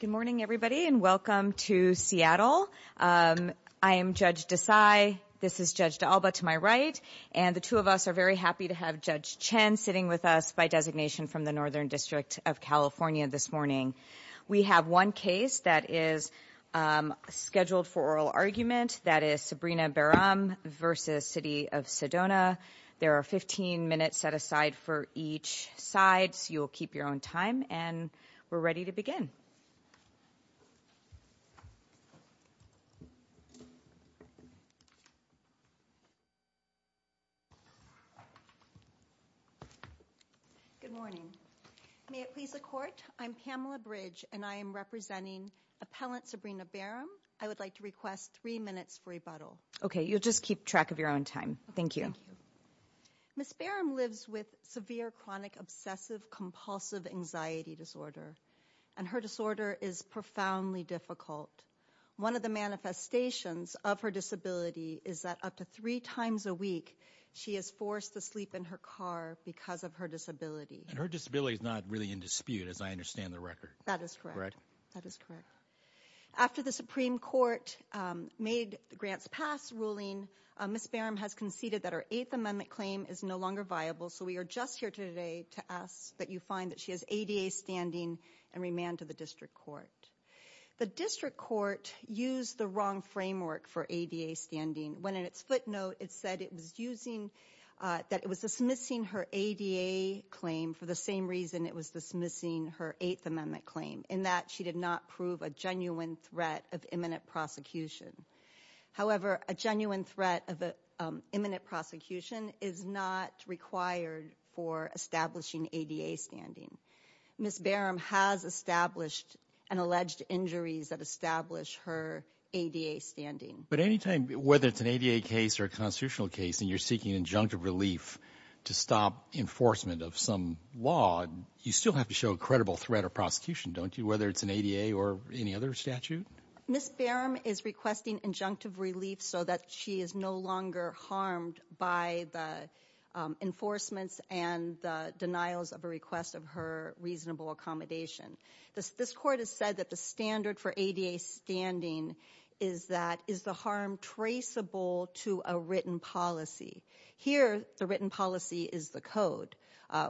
Good morning everybody and welcome to Seattle. I am Judge Desai, this is Judge D'Alba to my right, and the two of us are very happy to have Judge Chen sitting with us by designation from the Northern District of California this morning. We have one case that is scheduled for oral argument, that is Sabrina Beram v. City of Sedona. There are 15 minutes set aside for each side, you will keep your own time, and we're ready to begin. Good morning. May it please the court, I'm Pamela Bridge and I am representing appellant Sabrina Beram. I would like to request three minutes for rebuttal. Okay, you'll just keep track of your own time. Thank you. Ms. Beram lives with severe chronic obsessive compulsive anxiety disorder, and her disorder is profoundly difficult. One of the manifestations of her disability is that up to three times a week she is forced to sleep in her car because of her disability. And her disability is not really in dispute as I understand the record. That is correct, that is correct. After the Supreme Court made the grants pass ruling, Ms. Beram has conceded that her Eighth Amendment claim is no longer viable, so we are just here today to ask that you find that she has ADA standing and remand to the District Court. The District Court used the wrong framework for ADA standing when in its footnote it said it was using, that it was dismissing her ADA claim for the same reason it was dismissing her Eighth Amendment claim, in that she did not prove a genuine threat of imminent prosecution. However, a genuine threat of imminent prosecution is not required for establishing ADA standing. Ms. Beram has established and alleged injuries that establish her ADA standing. But anytime, whether it's an ADA case or a constitutional case and you're seeking injunctive relief to stop enforcement of some law, you still have to show a credible threat of prosecution, don't you, whether it's an ADA or any other statute? Ms. Beram is requesting injunctive relief so that she is no longer harmed by the enforcements and the denials of a request of her reasonable accommodation. This court has said that the standard for ADA standing is that, is the harm traceable to a written policy. Here, the written policy is the code,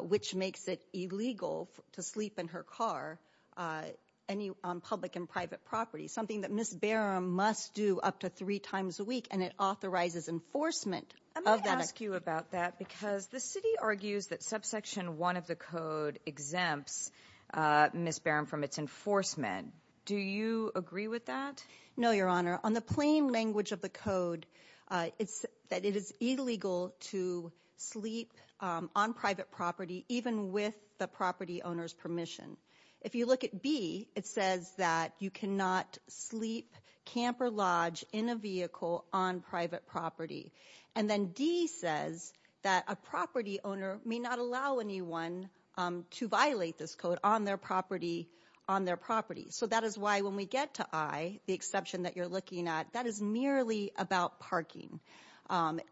which makes it illegal to sleep in her car, any, on public and private property, something that Ms. Beram must do up to three times a week, and it authorizes enforcement of that. Let me ask you about that, because the city argues that subsection one of the code exempts Ms. Beram from its enforcement. Do you agree with that? No, Your Honor. On the plain language of the code, it's that it is illegal to sleep on private property, even with the property owner's permission. If you look at B, it says that you cannot sleep, camp, or lodge in a vehicle on private property. And then D says that a property owner may not allow anyone to violate this code on their property, on their property. So that is why when we get to I, the exception that you're looking at, that is merely about parking.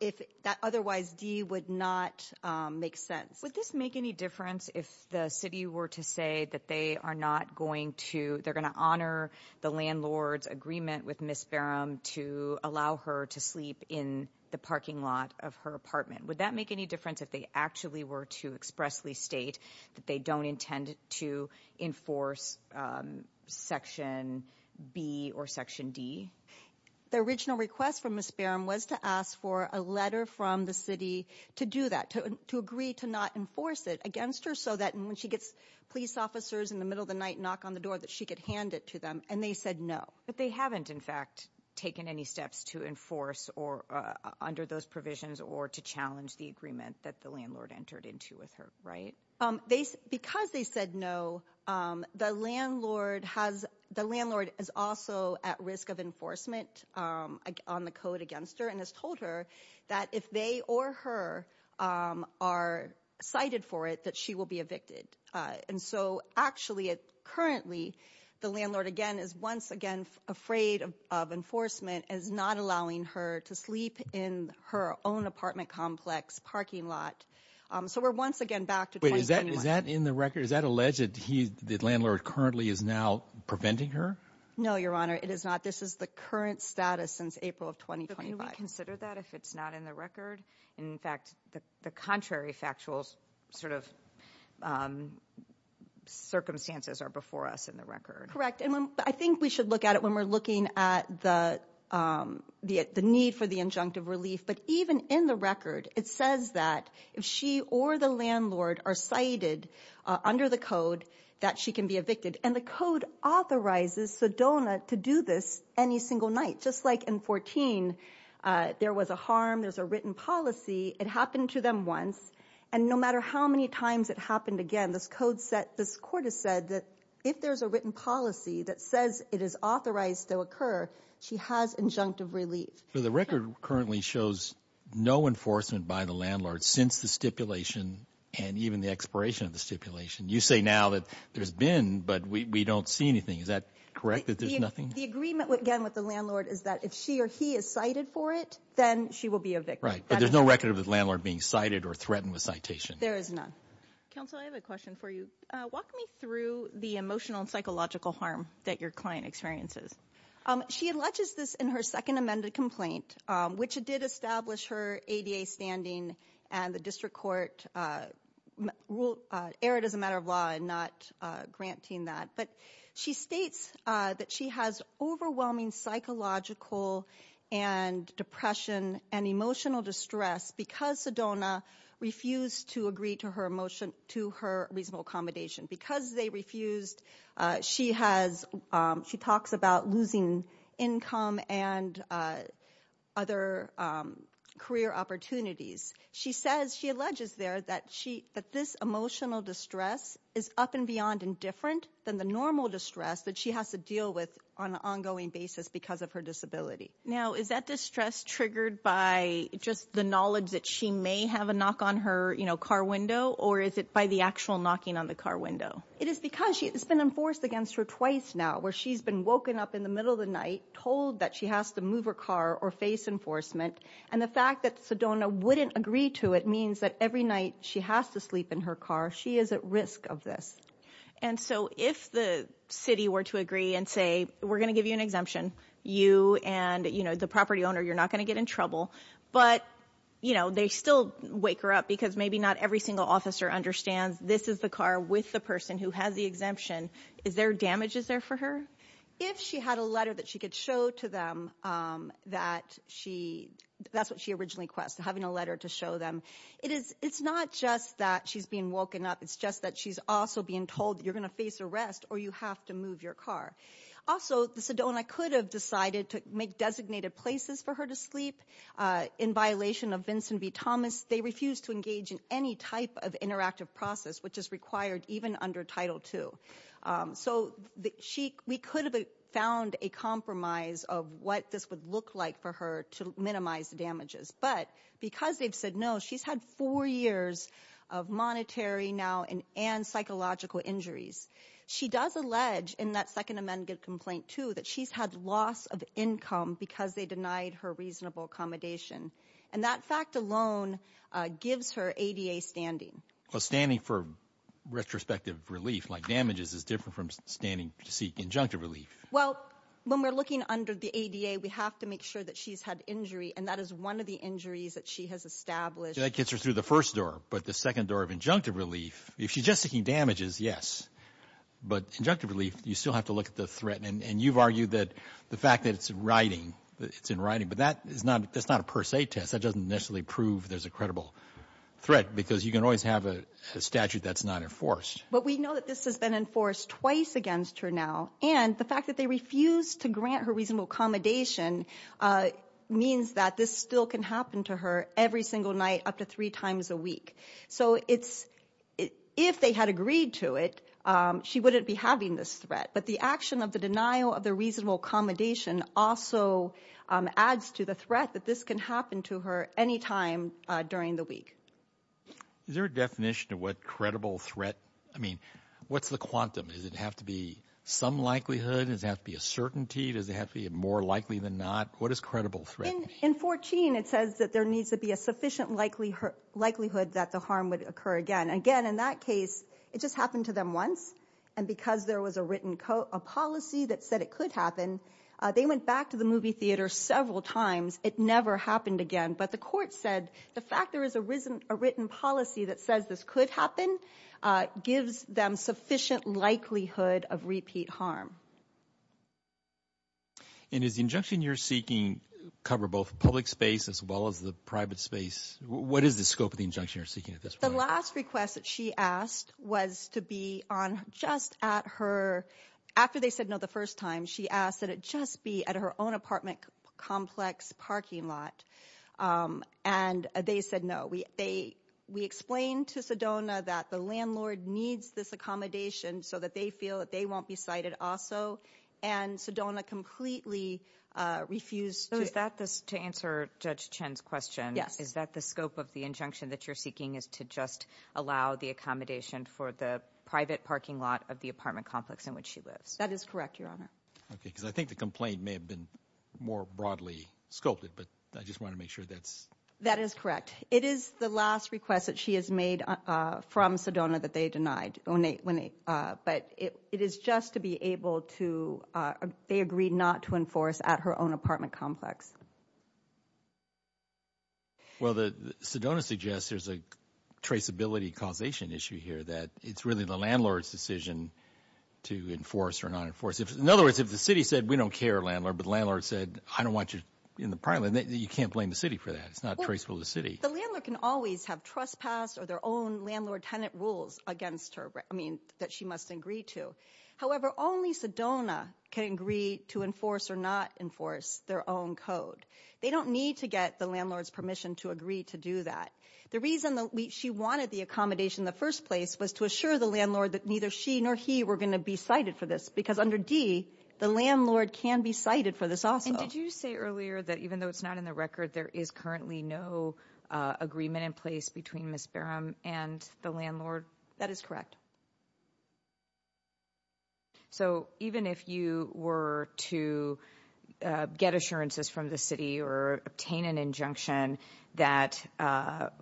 If that otherwise D would not make sense. Would this make any difference if the city were to say that they are not going to, they're going to honor the landlord's agreement with Ms. Beram to allow her to sleep in the parking lot of her apartment? Would that make any difference if they actually were to expressly state that they don't intend to enforce section B or section D? The original request from Ms. Beram was to ask for a letter from the city to do that, to agree to not enforce it against her so that when she gets police officers in the middle of the night knock on the door that she could hand it to them. And they said no. But they haven't, in fact, taken any steps to enforce or under those provisions or to challenge the agreement that the landlord entered into with her, right? Because they said no. The landlord has, the landlord is also at risk of enforcement on the code against her and has told her that if they or her are cited for it, that she will be evicted. And so actually, currently the landlord, again, is once again afraid of enforcement as not allowing her to sleep in her own apartment complex parking lot. So we're once again back to 2071. Wait, is that in the record that the landlord currently is now preventing her? No, Your Honor, it is not. This is the current status since April of 2025. But can we consider that if it's not in the record? In fact, the contrary factual sort of circumstances are before us in the record. Correct. And I think we should look at it when we're looking at the need for the injunctive relief. But even in the record, it says that if she or the landlord are cited under the code, that she can be evicted. And the code authorizes Sedona to do this any single night, just like in 14, there was a harm. There's a written policy. It happened to them once. And no matter how many times it happened again, this code set, this court has said that if there's a written policy that says it is authorized to occur, she has injunctive relief. So the record currently shows no enforcement by the landlord since the stipulation and even the expiration of the stipulation. You say now that there's been, but we don't see anything. Is that correct that there's nothing? The agreement again with the landlord is that if she or he is cited for it, then she will be evicted. Right. But there's no record of the landlord being cited or threatened with citation. There is none. Counsel, I have a question for you. Walk me through the emotional and psychological harm that your client experiences. She alleges this in her second amended complaint, which did establish her ADA standing and the district court rule erred as a matter of law and not granting that. But she states that she has overwhelming psychological and depression and emotional distress because Sedona refused to to her reasonable accommodation. Because they refused, she talks about losing income and other career opportunities. She alleges there that this emotional distress is up and beyond and different than the normal distress that she has to deal with on an ongoing basis because of her disability. Now, is that distress triggered by just the knowledge that she may have a knock on her car window or is it by the actual knocking on the car window? It is because it's been enforced against her twice now where she's been woken up in the middle of the night, told that she has to move her car or face enforcement. And the fact that Sedona wouldn't agree to it means that every night she has to sleep in her car. She is at risk of this. And so if the city were to agree and say, we're going to give you an exemption, you and the property owner, you're not going to get in trouble. But, you know, they still wake her up because maybe not every single officer understands this is the car with the person who has the exemption. Is there damage is there for her? If she had a letter that she could show to them that she, that's what she originally requests, having a letter to show them. It's not just that she's being woken up. It's just that she's also being told you're going to face arrest or you have to move your car. Also, the Sedona could have decided to make designated places for her to sleep in violation of Vincent v. Thomas. They refuse to engage in any type of interactive process, which is required even under Title II. So we could have found a compromise of what this would look like for her to minimize the damages. But because they've said no, she's had four years of monetary now and psychological injuries. She does allege in that Second Amendment complaint, too, that she's had loss of income because they denied her reasonable accommodation. And that fact alone gives her ADA standing. Well, standing for retrospective relief like damages is different from standing to seek injunctive relief. Well, when we're looking under the ADA, we have to make sure that she's had injury. And that is one of the injuries that she has established. That gets her through the first door. But the second door of she's just seeking damages, yes. But injunctive relief, you still have to look at the threat. And you've argued that the fact that it's in writing, but that's not a per se test. That doesn't necessarily prove there's a credible threat because you can always have a statute that's not enforced. But we know that this has been enforced twice against her now. And the fact that they refuse to grant her reasonable accommodation means that this still can happen to her every single night up to three times a week. So it's if they had agreed to it, she wouldn't be having this threat. But the action of the denial of the reasonable accommodation also adds to the threat that this can happen to her any time during the week. Is there a definition of what credible threat? I mean, what's the quantum? Does it have to be some likelihood? Does it have to be a certainty? Does it have to be more likely than not? What In 14, it says that there needs to be a sufficient likelihood that the harm would occur again. Again, in that case, it just happened to them once. And because there was a written policy that said it could happen, they went back to the movie theater several times. It never happened again. But the court said the fact there is a written policy that says this could happen gives them sufficient likelihood of repeat harm. And is the injunction you're seeking cover both public space as well as the private space? What is the scope of the injunction you're seeking at this? The last request that she asked was to be on just at her after they said no. The first time she asked that it just be at her own apartment complex parking lot. And they said no. We they we explained to Sedona that the landlord needs this accommodation so that they feel that they won't be cited also. And Sedona completely refused. So is that this to answer Judge Chen's question? Yes. Is that the scope of the injunction that you're seeking is to just allow the accommodation for the private parking lot of the apartment complex in which she lives? That is correct, Your Honor. Okay, because I think the complaint may have been more broadly sculpted, but I just want to make That is correct. It is the last request that she has made from Sedona that they denied. But it is just to be able to, they agreed not to enforce at her own apartment complex. Well, Sedona suggests there's a traceability causation issue here that it's really the landlord's decision to enforce or not enforce. In other words, if the city said we don't care, but the landlord said I don't want you in the apartment, you can't blame the city for that. It's not traceable to the city. The landlord can always have trespass or their own landlord-tenant rules against her. I mean, that she must agree to. However, only Sedona can agree to enforce or not enforce their own code. They don't need to get the landlord's permission to agree to do that. The reason that she wanted the accommodation in the first place was to assure the landlord that she nor he were going to be cited for this because under D, the landlord can be cited for this also. Did you say earlier that even though it's not in the record, there is currently no agreement in place between Ms. Barham and the landlord? That is correct. So even if you were to get assurances from the city or obtain an injunction that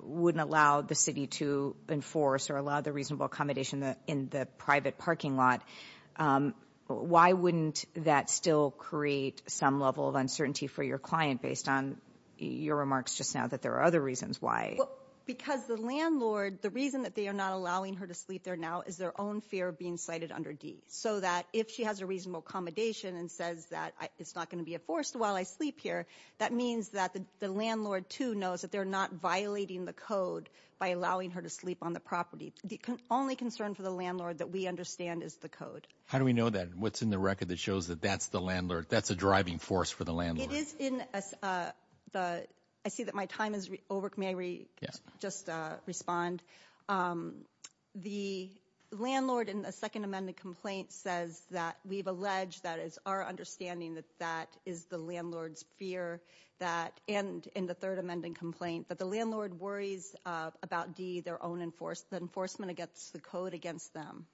wouldn't allow the city to enforce or allow the reasonable accommodation in the private parking lot, why wouldn't that still create some level of uncertainty for your client based on your remarks just now that there are other reasons why? Because the landlord, the reason that they are not allowing her to sleep there now is their own fear of being cited under D. So that if she has a reasonable accommodation and says that it's not going to be enforced while I sleep here, that means that the landlord too knows that they're violating the code by allowing her to sleep on the property. The only concern for the landlord that we understand is the code. How do we know that? What's in the record that shows that that's a driving force for the landlord? I see that my time is over. May I just respond? The landlord in the second amendment complaint says that we've alleged that it's our understanding that that is the landlord's fear that, and in the third amending complaint, that the landlord worries about D, the enforcement against the code against them.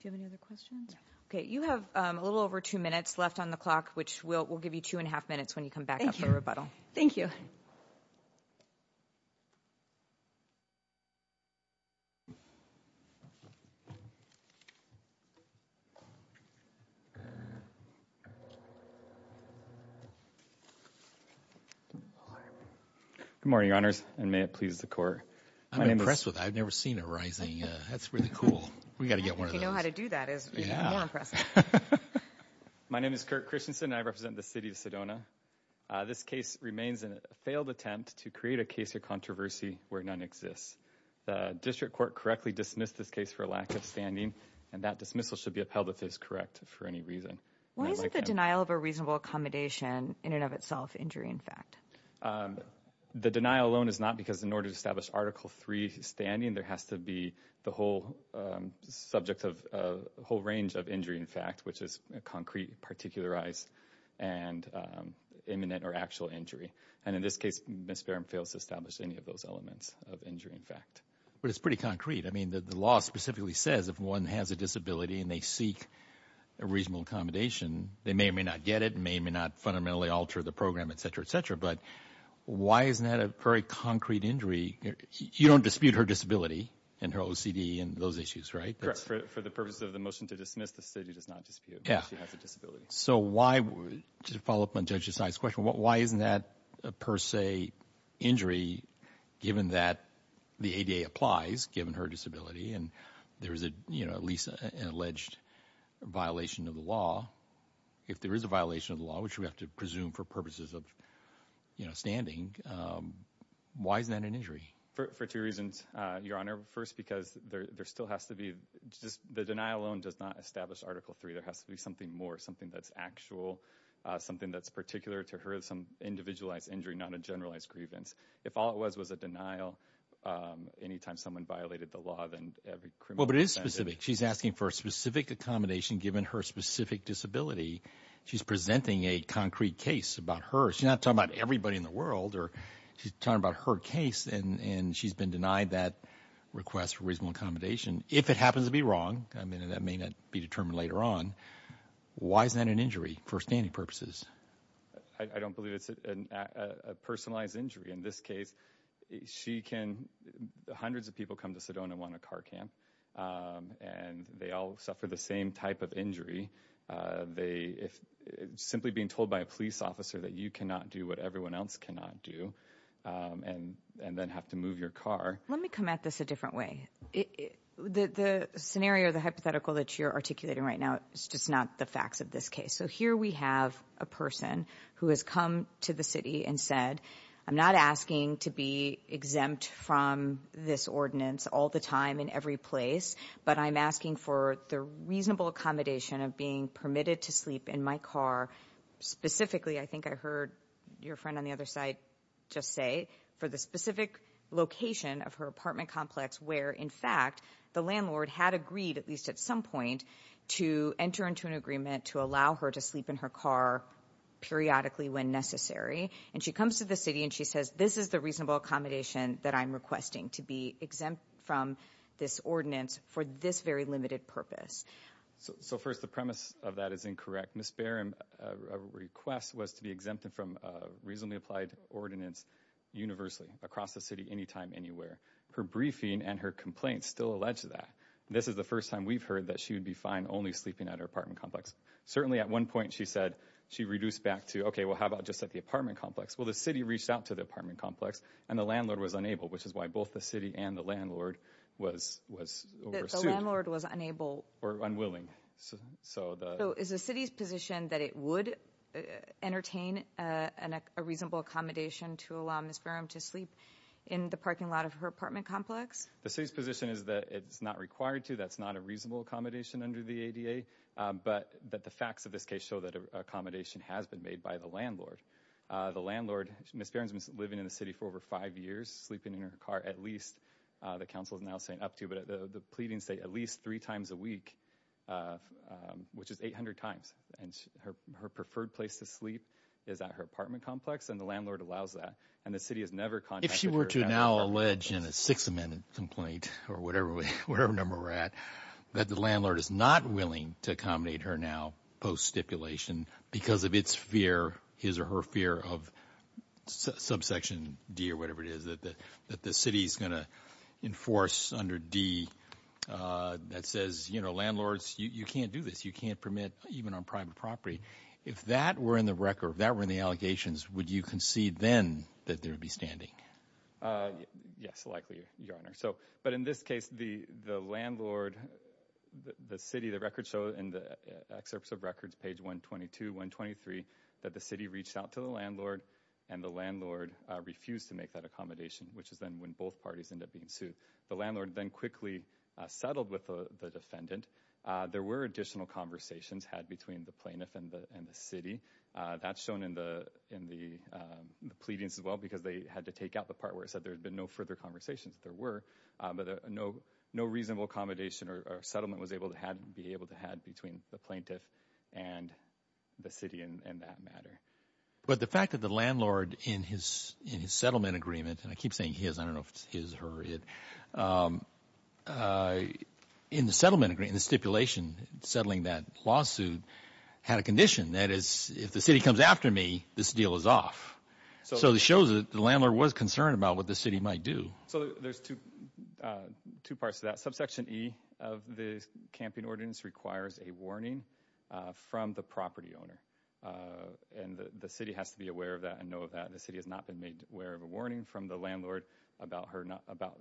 Do you have any other questions? Okay. You have a little over two minutes left on the clock, which we'll give you two and a half minutes when you come back up for rebuttal. Thank you. Good morning, Your Honors, and may it please the court. I'm impressed with that. I've never seen it rising. That's really cool. We've got to get one of those. If you know how to do that, you'll be more impressed. My name is Kirk Christensen, and I represent the city of Sedona. This case remains a failed attempt to create a case of controversy where none exists. The district court correctly dismissed this case for lack of standing, and that dismissal should be upheld if it is correct for any reason. Why isn't the denial of a reasonable accommodation, in and of itself, injury in fact? The denial alone is not because in order to establish Article 3 standing, there has to be a whole range of injury in fact, which is concrete, particularized, and imminent or actual injury. And in this case, Ms. Barham fails to establish any of those elements of injury in fact. But it's pretty concrete. I mean, the law specifically says if one has a disability and they seek a reasonable accommodation, they may or may not get it, may or may not fundamentally alter the program, et cetera, et cetera. But why isn't that a very concrete injury? You don't dispute her disability and her OCD and those issues, right? Correct. For the purposes of the motion to dismiss, the city does not dispute that she has a disability. So why, to follow up on Judge Desai's question, why isn't that a per se injury given that the ADA applies given her disability and there is at least an alleged violation of the law? If there is a violation of the law, which we have to presume for purposes of standing, why isn't that an injury? For two reasons, Your Honor. First, because there still has to be, just the denial alone does not establish Article 3. There has to be something more, something that's actual, something that's particular to her, some individualized injury, not a generalized grievance. If all it was was a denial, anytime someone violated the law, then every criminal... Well, but it is specific. She's asking for a specific accommodation given her specific disability. She's presenting a concrete case about her. She's not talking about everybody in the world or she's talking about her case and she's been denied that request for reasonable accommodation. If it happens to be wrong, I mean, that may not be determined later on, why is that an injury for standing purposes? I don't believe it's a personalized injury. In this case, she can... Hundreds of people come to Sedona and want a car camp and they all suffer the same type of injury. Simply being told by a police officer that you cannot do what everyone else cannot do and then have to move your car. Let me come at this a different way. The scenario, the hypothetical that you're articulating right now is just not the facts of this case. So here we have a person who has come to the city and said, I'm not asking to be exempt from this ordinance all the time in every place, but I'm asking for the reasonable accommodation of being permitted to sleep in my car. Specifically, I think I heard your friend on the other side just say, for the specific location of her apartment complex, where in fact, the landlord had agreed at least at some point to enter into an agreement to allow her to sleep in her car periodically when necessary. And she comes to the city and she says, this is the reasonable accommodation that I'm requesting to be exempt from this ordinance for this very limited purpose. So first, the premise of that is incorrect. Ms. Barron, a request was to be exempted from a reasonably applied ordinance universally across the city, anytime, anywhere. Her briefing and her complaints still allege that. This is the first time we've heard that she would be fine only sleeping at her apartment complex. Certainly at one point, she said she reduced back to, okay, well, how about just at the apartment complex? Well, the city reached out to the apartment complex and the landlord was unable, which is why both the city and the landlord was, the landlord was unable or unwilling. So is the city's position that it would entertain a reasonable accommodation to allow Ms. Barron to sleep in the parking lot of her apartment complex? The city's position is that it's not required to, that's not a reasonable accommodation under the ADA, but that the facts of this case show that accommodation has been made by the landlord. The landlord, Ms. Barron's been living in the city for over five years, sleeping in her car at least, the council is now saying up to, but the pleadings say at least three times a week, which is 800 times. And her preferred place to sleep is at her apartment complex and the landlord allows that. And the city has never contacted her. If she were to now allege in a Sixth Amendment complaint or whatever, whatever number we're at, that the landlord is not willing to accommodate her now post stipulation because of its fear, his or her fear of subsection D or whatever it is, that the city is going to enforce under D that says, you know, landlords, you can't do this. You can't permit even on private property. If that were in the record, if that were in the allegations, would you concede then that there would be standing? Yes, likely, Your Honor. So, but in this case, the landlord, the city, the records show in the excerpts of records, page 122, 123, that the city reached out to the landlord and the landlord refused to make that accommodation, which is then when both parties end up being sued. The landlord then quickly settled with the defendant. There were additional conversations had between the plaintiff and the, and the city that's shown in the, in the pleadings as well, because they had to take out the part where it said there had been no further conversations. There were, but no, no reasonable accommodation or settlement was able to have, be able to have between the plaintiff and the city in that matter. But the fact that the landlord in his, in his settlement agreement, and I keep saying his, I don't know if it's his or it, in the settlement agreement, the stipulation settling that lawsuit had a condition that is if the city comes after me, this deal is off. So it shows that the landlord was concerned about what the city might do. So there's two, two parts to that. Subsection E of the camping ordinance requires a warning from the property owner. And the city has to be aware of that and know of that. The city has not been made aware of a warning from the landlord about her, not about,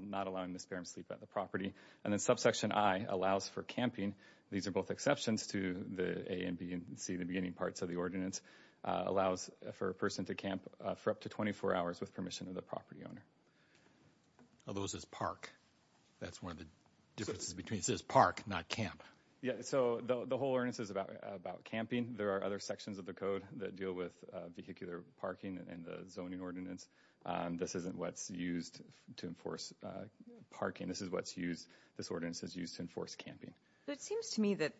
not allowing the sparrows sleep at the property. And then subsection I allows for camping. These are both exceptions to the A and B and C, the beginning parts of ordinance allows for a person to camp for up to 24 hours with permission of the property owner. Are those as park? That's one of the differences between says park, not camp. Yeah. So the whole ordinance is about, about camping. There are other sections of the code that deal with vehicular parking and the zoning ordinance. This isn't what's used to enforce parking. This is what's used. This ordinance is used to enforce camping. But it seems to me that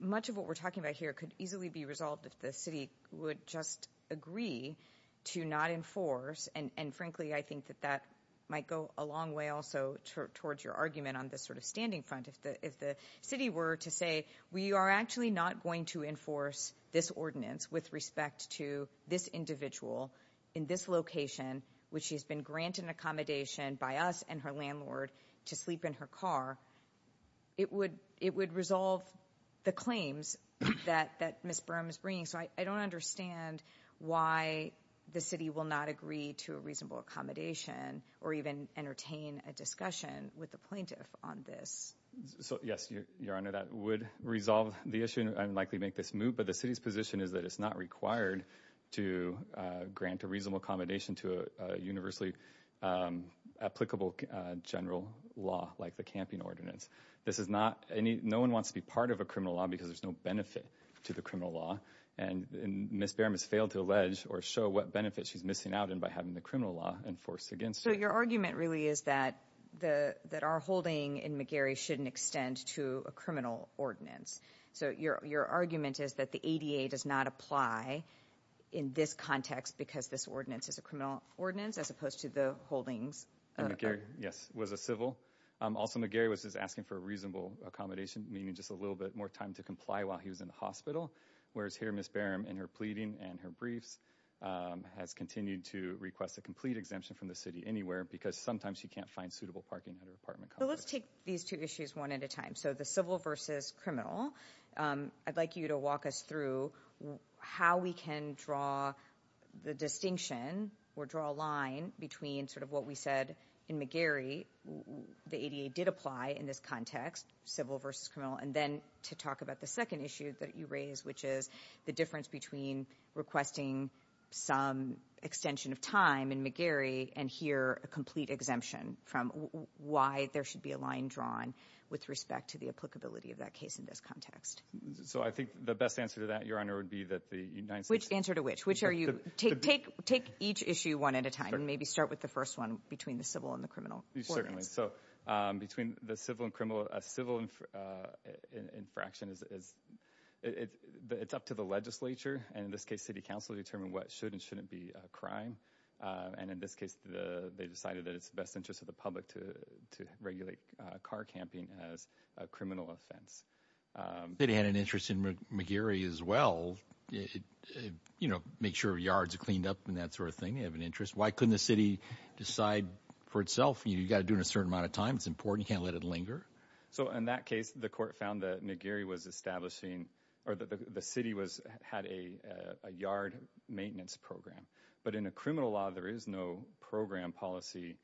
much of what we're talking about here could easily be resolved if the city would just agree to not enforce. And, and frankly, I think that that might go a long way also towards your argument on this sort of standing front. If the, if the city were to say, we are actually not going to enforce this ordinance with respect to this individual in this location, which she's been granted an accommodation by us and her landlord to sleep in her car, it would, it would resolve the claims that, that Ms. Brown is bringing. So I don't understand why the city will not agree to a reasonable accommodation or even entertain a discussion with the plaintiff on this. So, yes, your honor, that would resolve the issue and likely make this move. But the city's position is that it's not required to grant a reasonable accommodation to a universally applicable general law like the camping ordinance. This is not any, no one wants to be part of a criminal law because there's no benefit to the criminal law. And Ms. Behram has failed to allege or show what benefit she's missing out in by having the criminal law enforced against her. So your argument really is that the, that our holding in McGarry shouldn't extend to a criminal ordinance. So your, your argument is that the ADA does not apply in this context because this ordinance is a criminal ordinance as opposed to the holdings. Yes, was a civil. Also McGarry was just asking for a reasonable accommodation, meaning just a little bit more time to comply while he was in the hospital. Whereas here Ms. Behram in her pleading and her briefs has continued to request a complete exemption from the city anywhere because sometimes she can't find suitable parking at her apartment. So let's take these two issues one at a time. So the civil versus criminal, I'd like you to walk us through how we can draw the distinction or draw a line between sort of what we said in McGarry, the ADA did apply in this context, civil versus criminal. And then to talk about the second issue that you raise, which is the difference between requesting some extension of time in McGarry and here a complete exemption from why there should be a line drawn with respect to the applicability of that case in this context. So I think the best answer to that, Your Honor, would be that the United States. Which answer to which, which are you take, take, take each issue one at a time and maybe start with the first one between the civil and the criminal. Certainly. So between the civil and criminal, a civil infraction is, it's up to the legislature. And in this case, city council determined what should and shouldn't be a crime. And in this case, the, they decided that it's the best interest of the public to, to regulate a car camping as a criminal offense. It had an interest in McGarry as well. It, you know, make sure yards are cleaned up and that sort of thing. You have an interest. Why couldn't the city decide for itself? You got to do in a certain amount of time. It's important. You can't let it linger. So in that case, the court found that McGarry was establishing or the, the, the city was had a, a yard maintenance program, but in a criminal law, there is no program policy.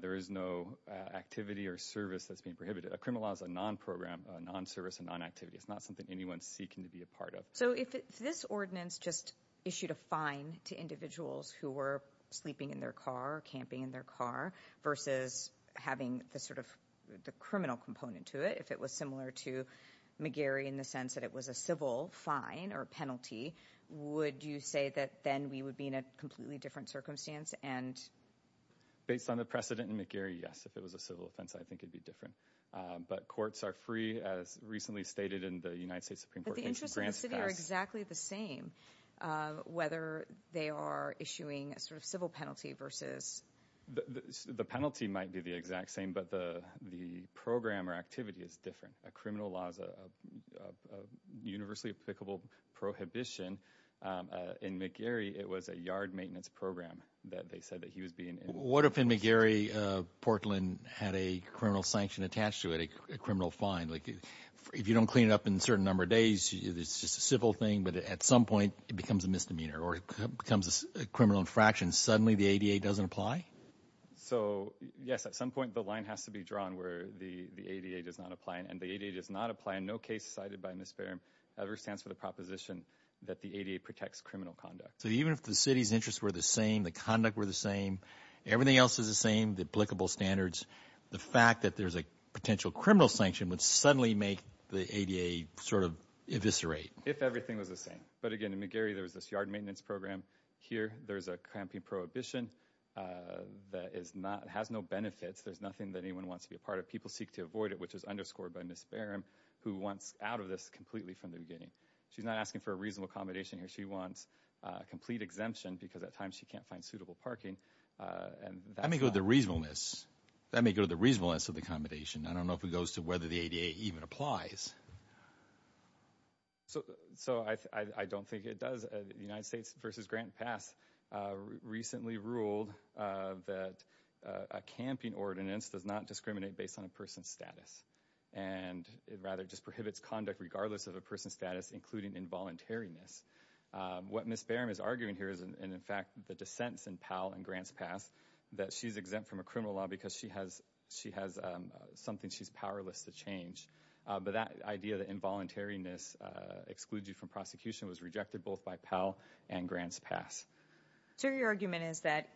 There is no activity or service that's being prohibited. A criminal law is a non-program, a non-service and non-activity. It's not something anyone's seeking to be a part of. So if this ordinance just issued a fine to individuals who were sleeping in their car, camping in their car versus having the sort of the criminal component to it, if it was similar to McGarry in the sense that it was a civil fine or penalty, would you say that then we would be in a completely different circumstance and? Based on the precedent in McGarry, yes. If it was a civil offense, I think it'd be different. But courts are free as recently stated in the United States Supreme Court. But the interest in the city are exactly the same, whether they are issuing a sort of civil penalty versus. The penalty might be the exact same, but the, the program or activity is different. A criminal law is a universally applicable prohibition. In McGarry, it was a yard maintenance program that they said that he was being in. What if in McGarry, Portland had a criminal sanction attached to it, a criminal fine? Like if you don't clean it up in a certain number of days, it's just a civil thing, but at some point it becomes a misdemeanor or it becomes a criminal infraction. Suddenly the ADA doesn't apply? So yes, at some point the line has to be drawn where the ADA does not apply. And the ADA does not apply in no case cited by Ms. Barham ever stands for the proposition that the ADA protects criminal conduct. So even if the city's interests were the same, the conduct were the same, everything else is the same, the applicable standards, the fact that there's a potential criminal sanction would suddenly make the ADA sort of eviscerate. If everything was the same. But again, in McGarry, there was this yard maintenance program. Here there's a cramping prohibition that is not, has no benefits. There's nothing that anyone wants to be a part of. People seek to avoid it, which is underscored by Ms. Barham, who wants out of this completely from the beginning. She's not asking for a reasonable accommodation here. She wants a complete exemption because at times she can't find suitable parking. Let me go to the reasonableness. Let me go to the reasonableness of the accommodation. I don't know if it goes to whether the ADA even applies. So I don't think it does. The United States Code of Ordinance does not discriminate based on a person's status. And it rather just prohibits conduct regardless of a person's status, including involuntariness. What Ms. Barham is arguing here is, and in fact, the dissents in Powell and Grants Pass, that she's exempt from a criminal law because she has something she's powerless to change. But that idea that involuntariness excludes you from prosecution was rejected both by Powell and Grants Pass. So your argument is that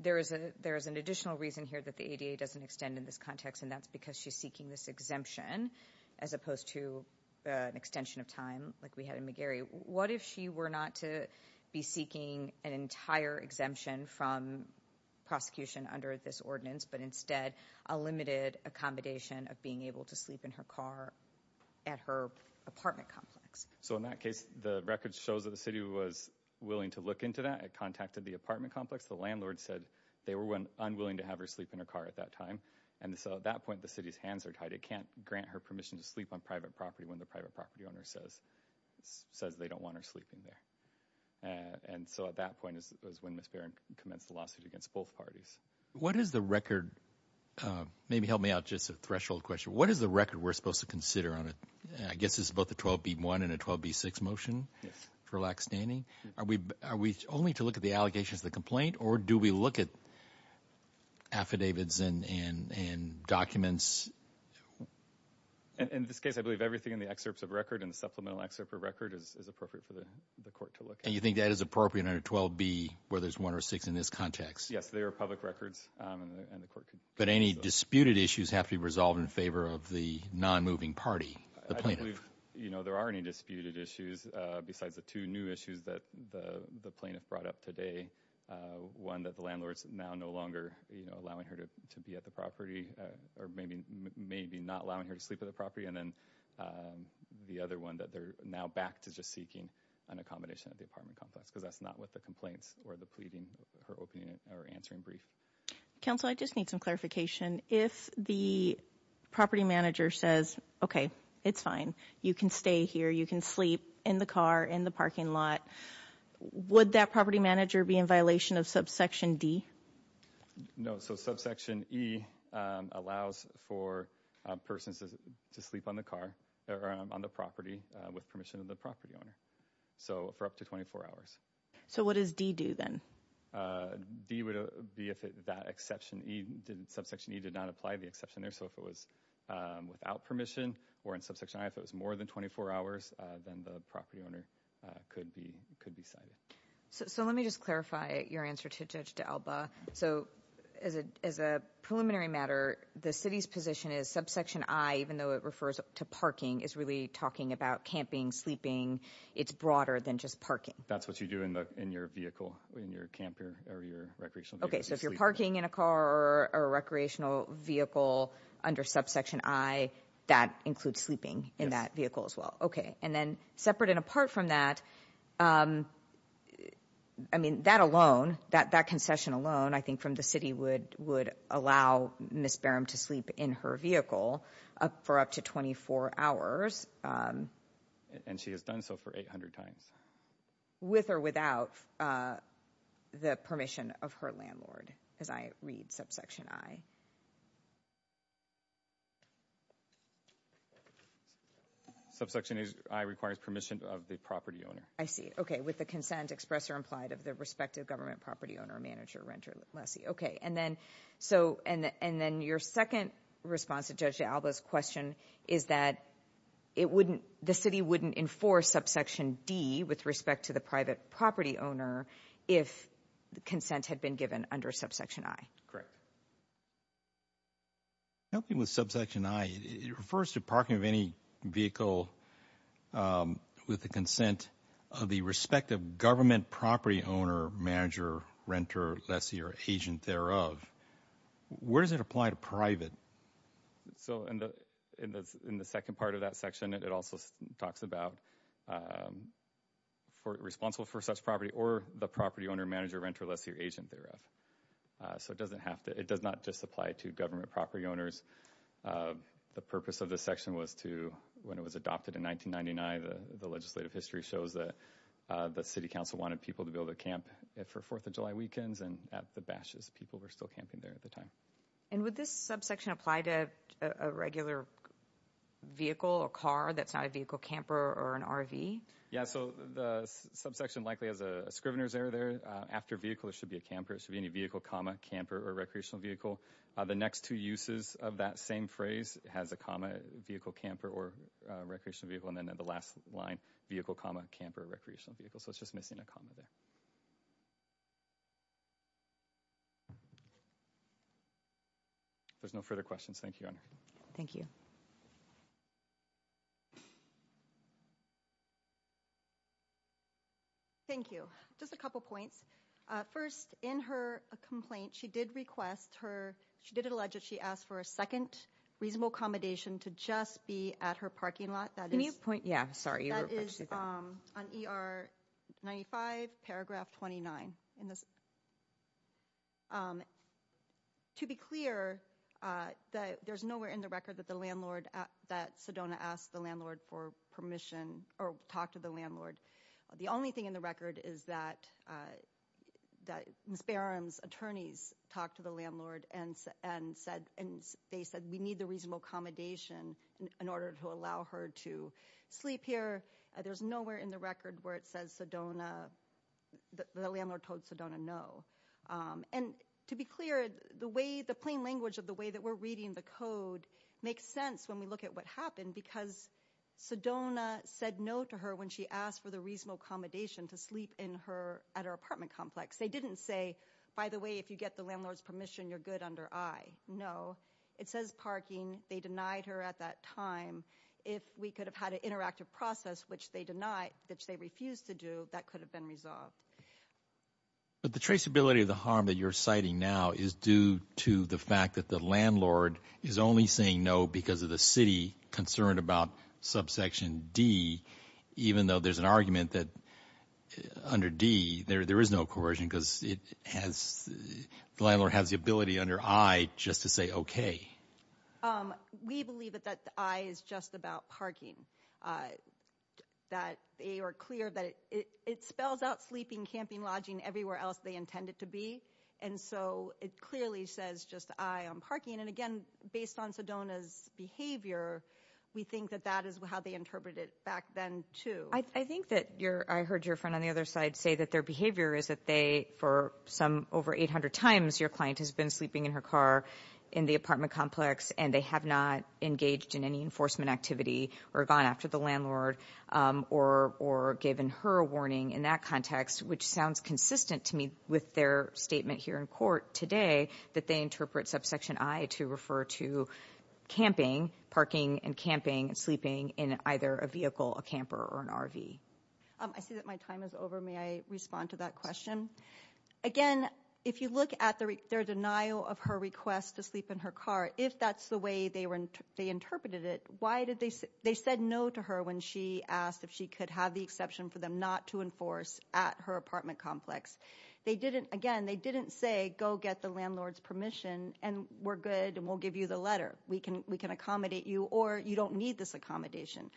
there is an additional reason here that the ADA doesn't extend in this context, and that's because she's seeking this exemption as opposed to an extension of time like we had in McGarry. What if she were not to be seeking an entire exemption from prosecution under this ordinance, but instead a limited accommodation of being able to sleep in her car at her apartment complex? So in that case, the record shows that the city was willing to look into that. It contacted the apartment complex. The landlord said they were unwilling to have her sleep in her car at that time. And so at that point, the city's hands are tied. It can't grant her permission to sleep on private property when the private property owner says they don't want her sleeping there. And so at that point is when Ms. Barham commenced the lawsuit against both parties. What is the record? Maybe help me out, just a threshold question. What is the record we're supposed to consider on it? I guess it's both the 12B1 and a 12B6 motion for lax standing. Are we only to look at the allegations of the complaint, or do we look at affidavits and documents? In this case, I believe everything in the excerpts of record and the supplemental excerpt of record is appropriate for the court to look at. And you think that is appropriate under 12B where there's one or six in this context? Yes, they are public records. But any disputed issues have to be resolved in favor of the non-moving party, the plaintiff? You know, there are any disputed issues besides the two new issues that the plaintiff brought up today. One that the landlord's now no longer, you know, allowing her to be at the property, or maybe not allowing her to sleep at the property. And then the other one that they're now back to just seeking an accommodation at the apartment complex, because that's not what the complaints or the pleading, her opening or answering brief. Counsel, I just need some clarification. If the property manager says, okay, it's fine. You can stay here. You can sleep in the car, in the parking lot. Would that property manager be in violation of subsection D? No. So subsection E allows for a person to sleep on the car or on the property with permission of the property owner. So for up to 24 hours. So what does D do then? D would be if that exception, subsection E did not apply the exception there. So if it was without permission, or in subsection I, if it was more than 24 hours, then the property owner could be cited. So let me just clarify your answer to Judge D'Alba. So as a preliminary matter, the city's position is subsection I, even though it refers to parking, is really talking about camping, sleeping. It's broader than just parking. That's what you do in your vehicle, in your camp or your recreational vehicle. Okay. So if you're parking in a car or a recreational vehicle under subsection I, that includes sleeping in that vehicle as well. Okay. And then separate and apart from that, I mean, that alone, that concession alone, I think from the city would allow Ms. Barham to sleep in her vehicle for up to 24 hours. And she has done so for 800 times. With or without the permission of her landlord, as I read subsection I. Subsection I requires permission of the property owner. I see. Okay. With the consent express or implied of the respective government property owner, manager, renter, lessee. Okay. And then your second response to Judge D'Alba's question is that the city wouldn't enforce subsection D with respect to the private property owner if the consent had been given under subsection I. Correct. Helping with subsection I, it refers to parking of any vehicle with the consent of the respective government property owner, manager, renter, lessee or agent thereof. Where does it apply to private? So in the second part of that section, it also talks about responsible for such property or the property owner, manager, renter, lessee or agent thereof. So it doesn't have to, it does not just apply to government property owners. The purpose of this section was to, when it was adopted in 1999, the legislative history shows that the city council wanted people to be able to camp for Fourth of July weekends and at the bashes, people were still able to camp for the Fourth of July weekends. So it's just missing a comma there. Does this subsection apply to a regular vehicle, a car that's not a vehicle camper or an RV? Yeah, so the subsection likely has a scrivener's error there. After vehicle, it should be a camper. It should be any vehicle, comma, camper or recreational vehicle. The next two uses of that same phrase has a comma, vehicle, camper or recreational vehicle. And then the last line, vehicle, comma, camper or recreational vehicle. So it's just missing a comma there. There's no further questions. Thank you, Your Honor. Thank you. Thank you. Just a couple points. First, in her complaint, she did request her, she did allege that she asked for a second reasonable accommodation to just be at her parking lot. Can you point, yeah, sorry. That is on ER 95, paragraph 29. To be clear, there's nowhere in the record that the landlord, that Sedona asked the landlord for permission or talked to the landlord. The only thing in the record is that Ms. Barron's attorneys talked to the landlord and said, and they said, we need the reasonable accommodation in order to allow her to sleep here. There's nowhere in the record where it says Sedona, the landlord told Sedona no. And to be clear, the way, the plain language of the way that we're reading the code makes sense when we look at what happened because Sedona said no to her when she asked for the reasonable accommodation to sleep in her, at her apartment complex. They didn't say, by the way, if you get the landlord's permission, you're good under I. No. It says parking. They denied her at that time. If we could have had an interactive process, which they denied, which they refused to do, that could have been resolved. But the traceability of the harm that you're citing now is due to the fact that the landlord is only saying no because of the city concerned about subsection D, even though there's an argument that under D there is no coercion because it has, the landlord has the ability under I just to say, okay. We believe that the I is just about parking. That they are clear that it spells out sleeping, camping, lodging everywhere else they intend it to be. And so it clearly says just I on parking. And again, based on Sedona's behavior, we think that that is how they interpret it back then too. I think that your, I heard your friend on the other side say that their behavior is that they, for some over 800 times, your client has been sleeping in her car in the apartment complex and they have not engaged in any enforcement activity or gone after the landlord or, or given her a warning in that context, which sounds consistent to me with their statement here in court today, that they interpret subsection I to refer to camping, parking and camping and sleeping in either a vehicle, a camper or an RV. I see that my time is over. May I respond to that question? Again, if you look at their denial of her request to sleep in her car, if that's the way they were, they interpreted it, why did they say, they said no to her when she asked if she could have the exception for them not to enforce at her apartment complex. They didn't, again, they didn't say, go get the landlord's permission and we're good and we'll give you the letter. We can, we can accommodate you or you don't need this accommodation.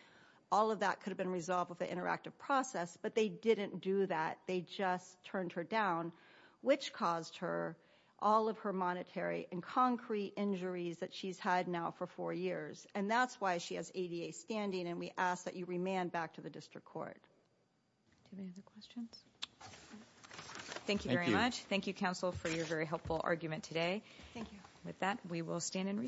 All of that could have been resolved with the interactive process, but they didn't do that. They just turned her down, which caused her all of her monetary and concrete injuries that she's had now for four years. And that's why she has ADA standing. And we ask that you remand back to the district court. Do you have any other questions? Thank you very much. Thank you counsel for your very helpful argument today. Thank you. With that, we will stand in recess.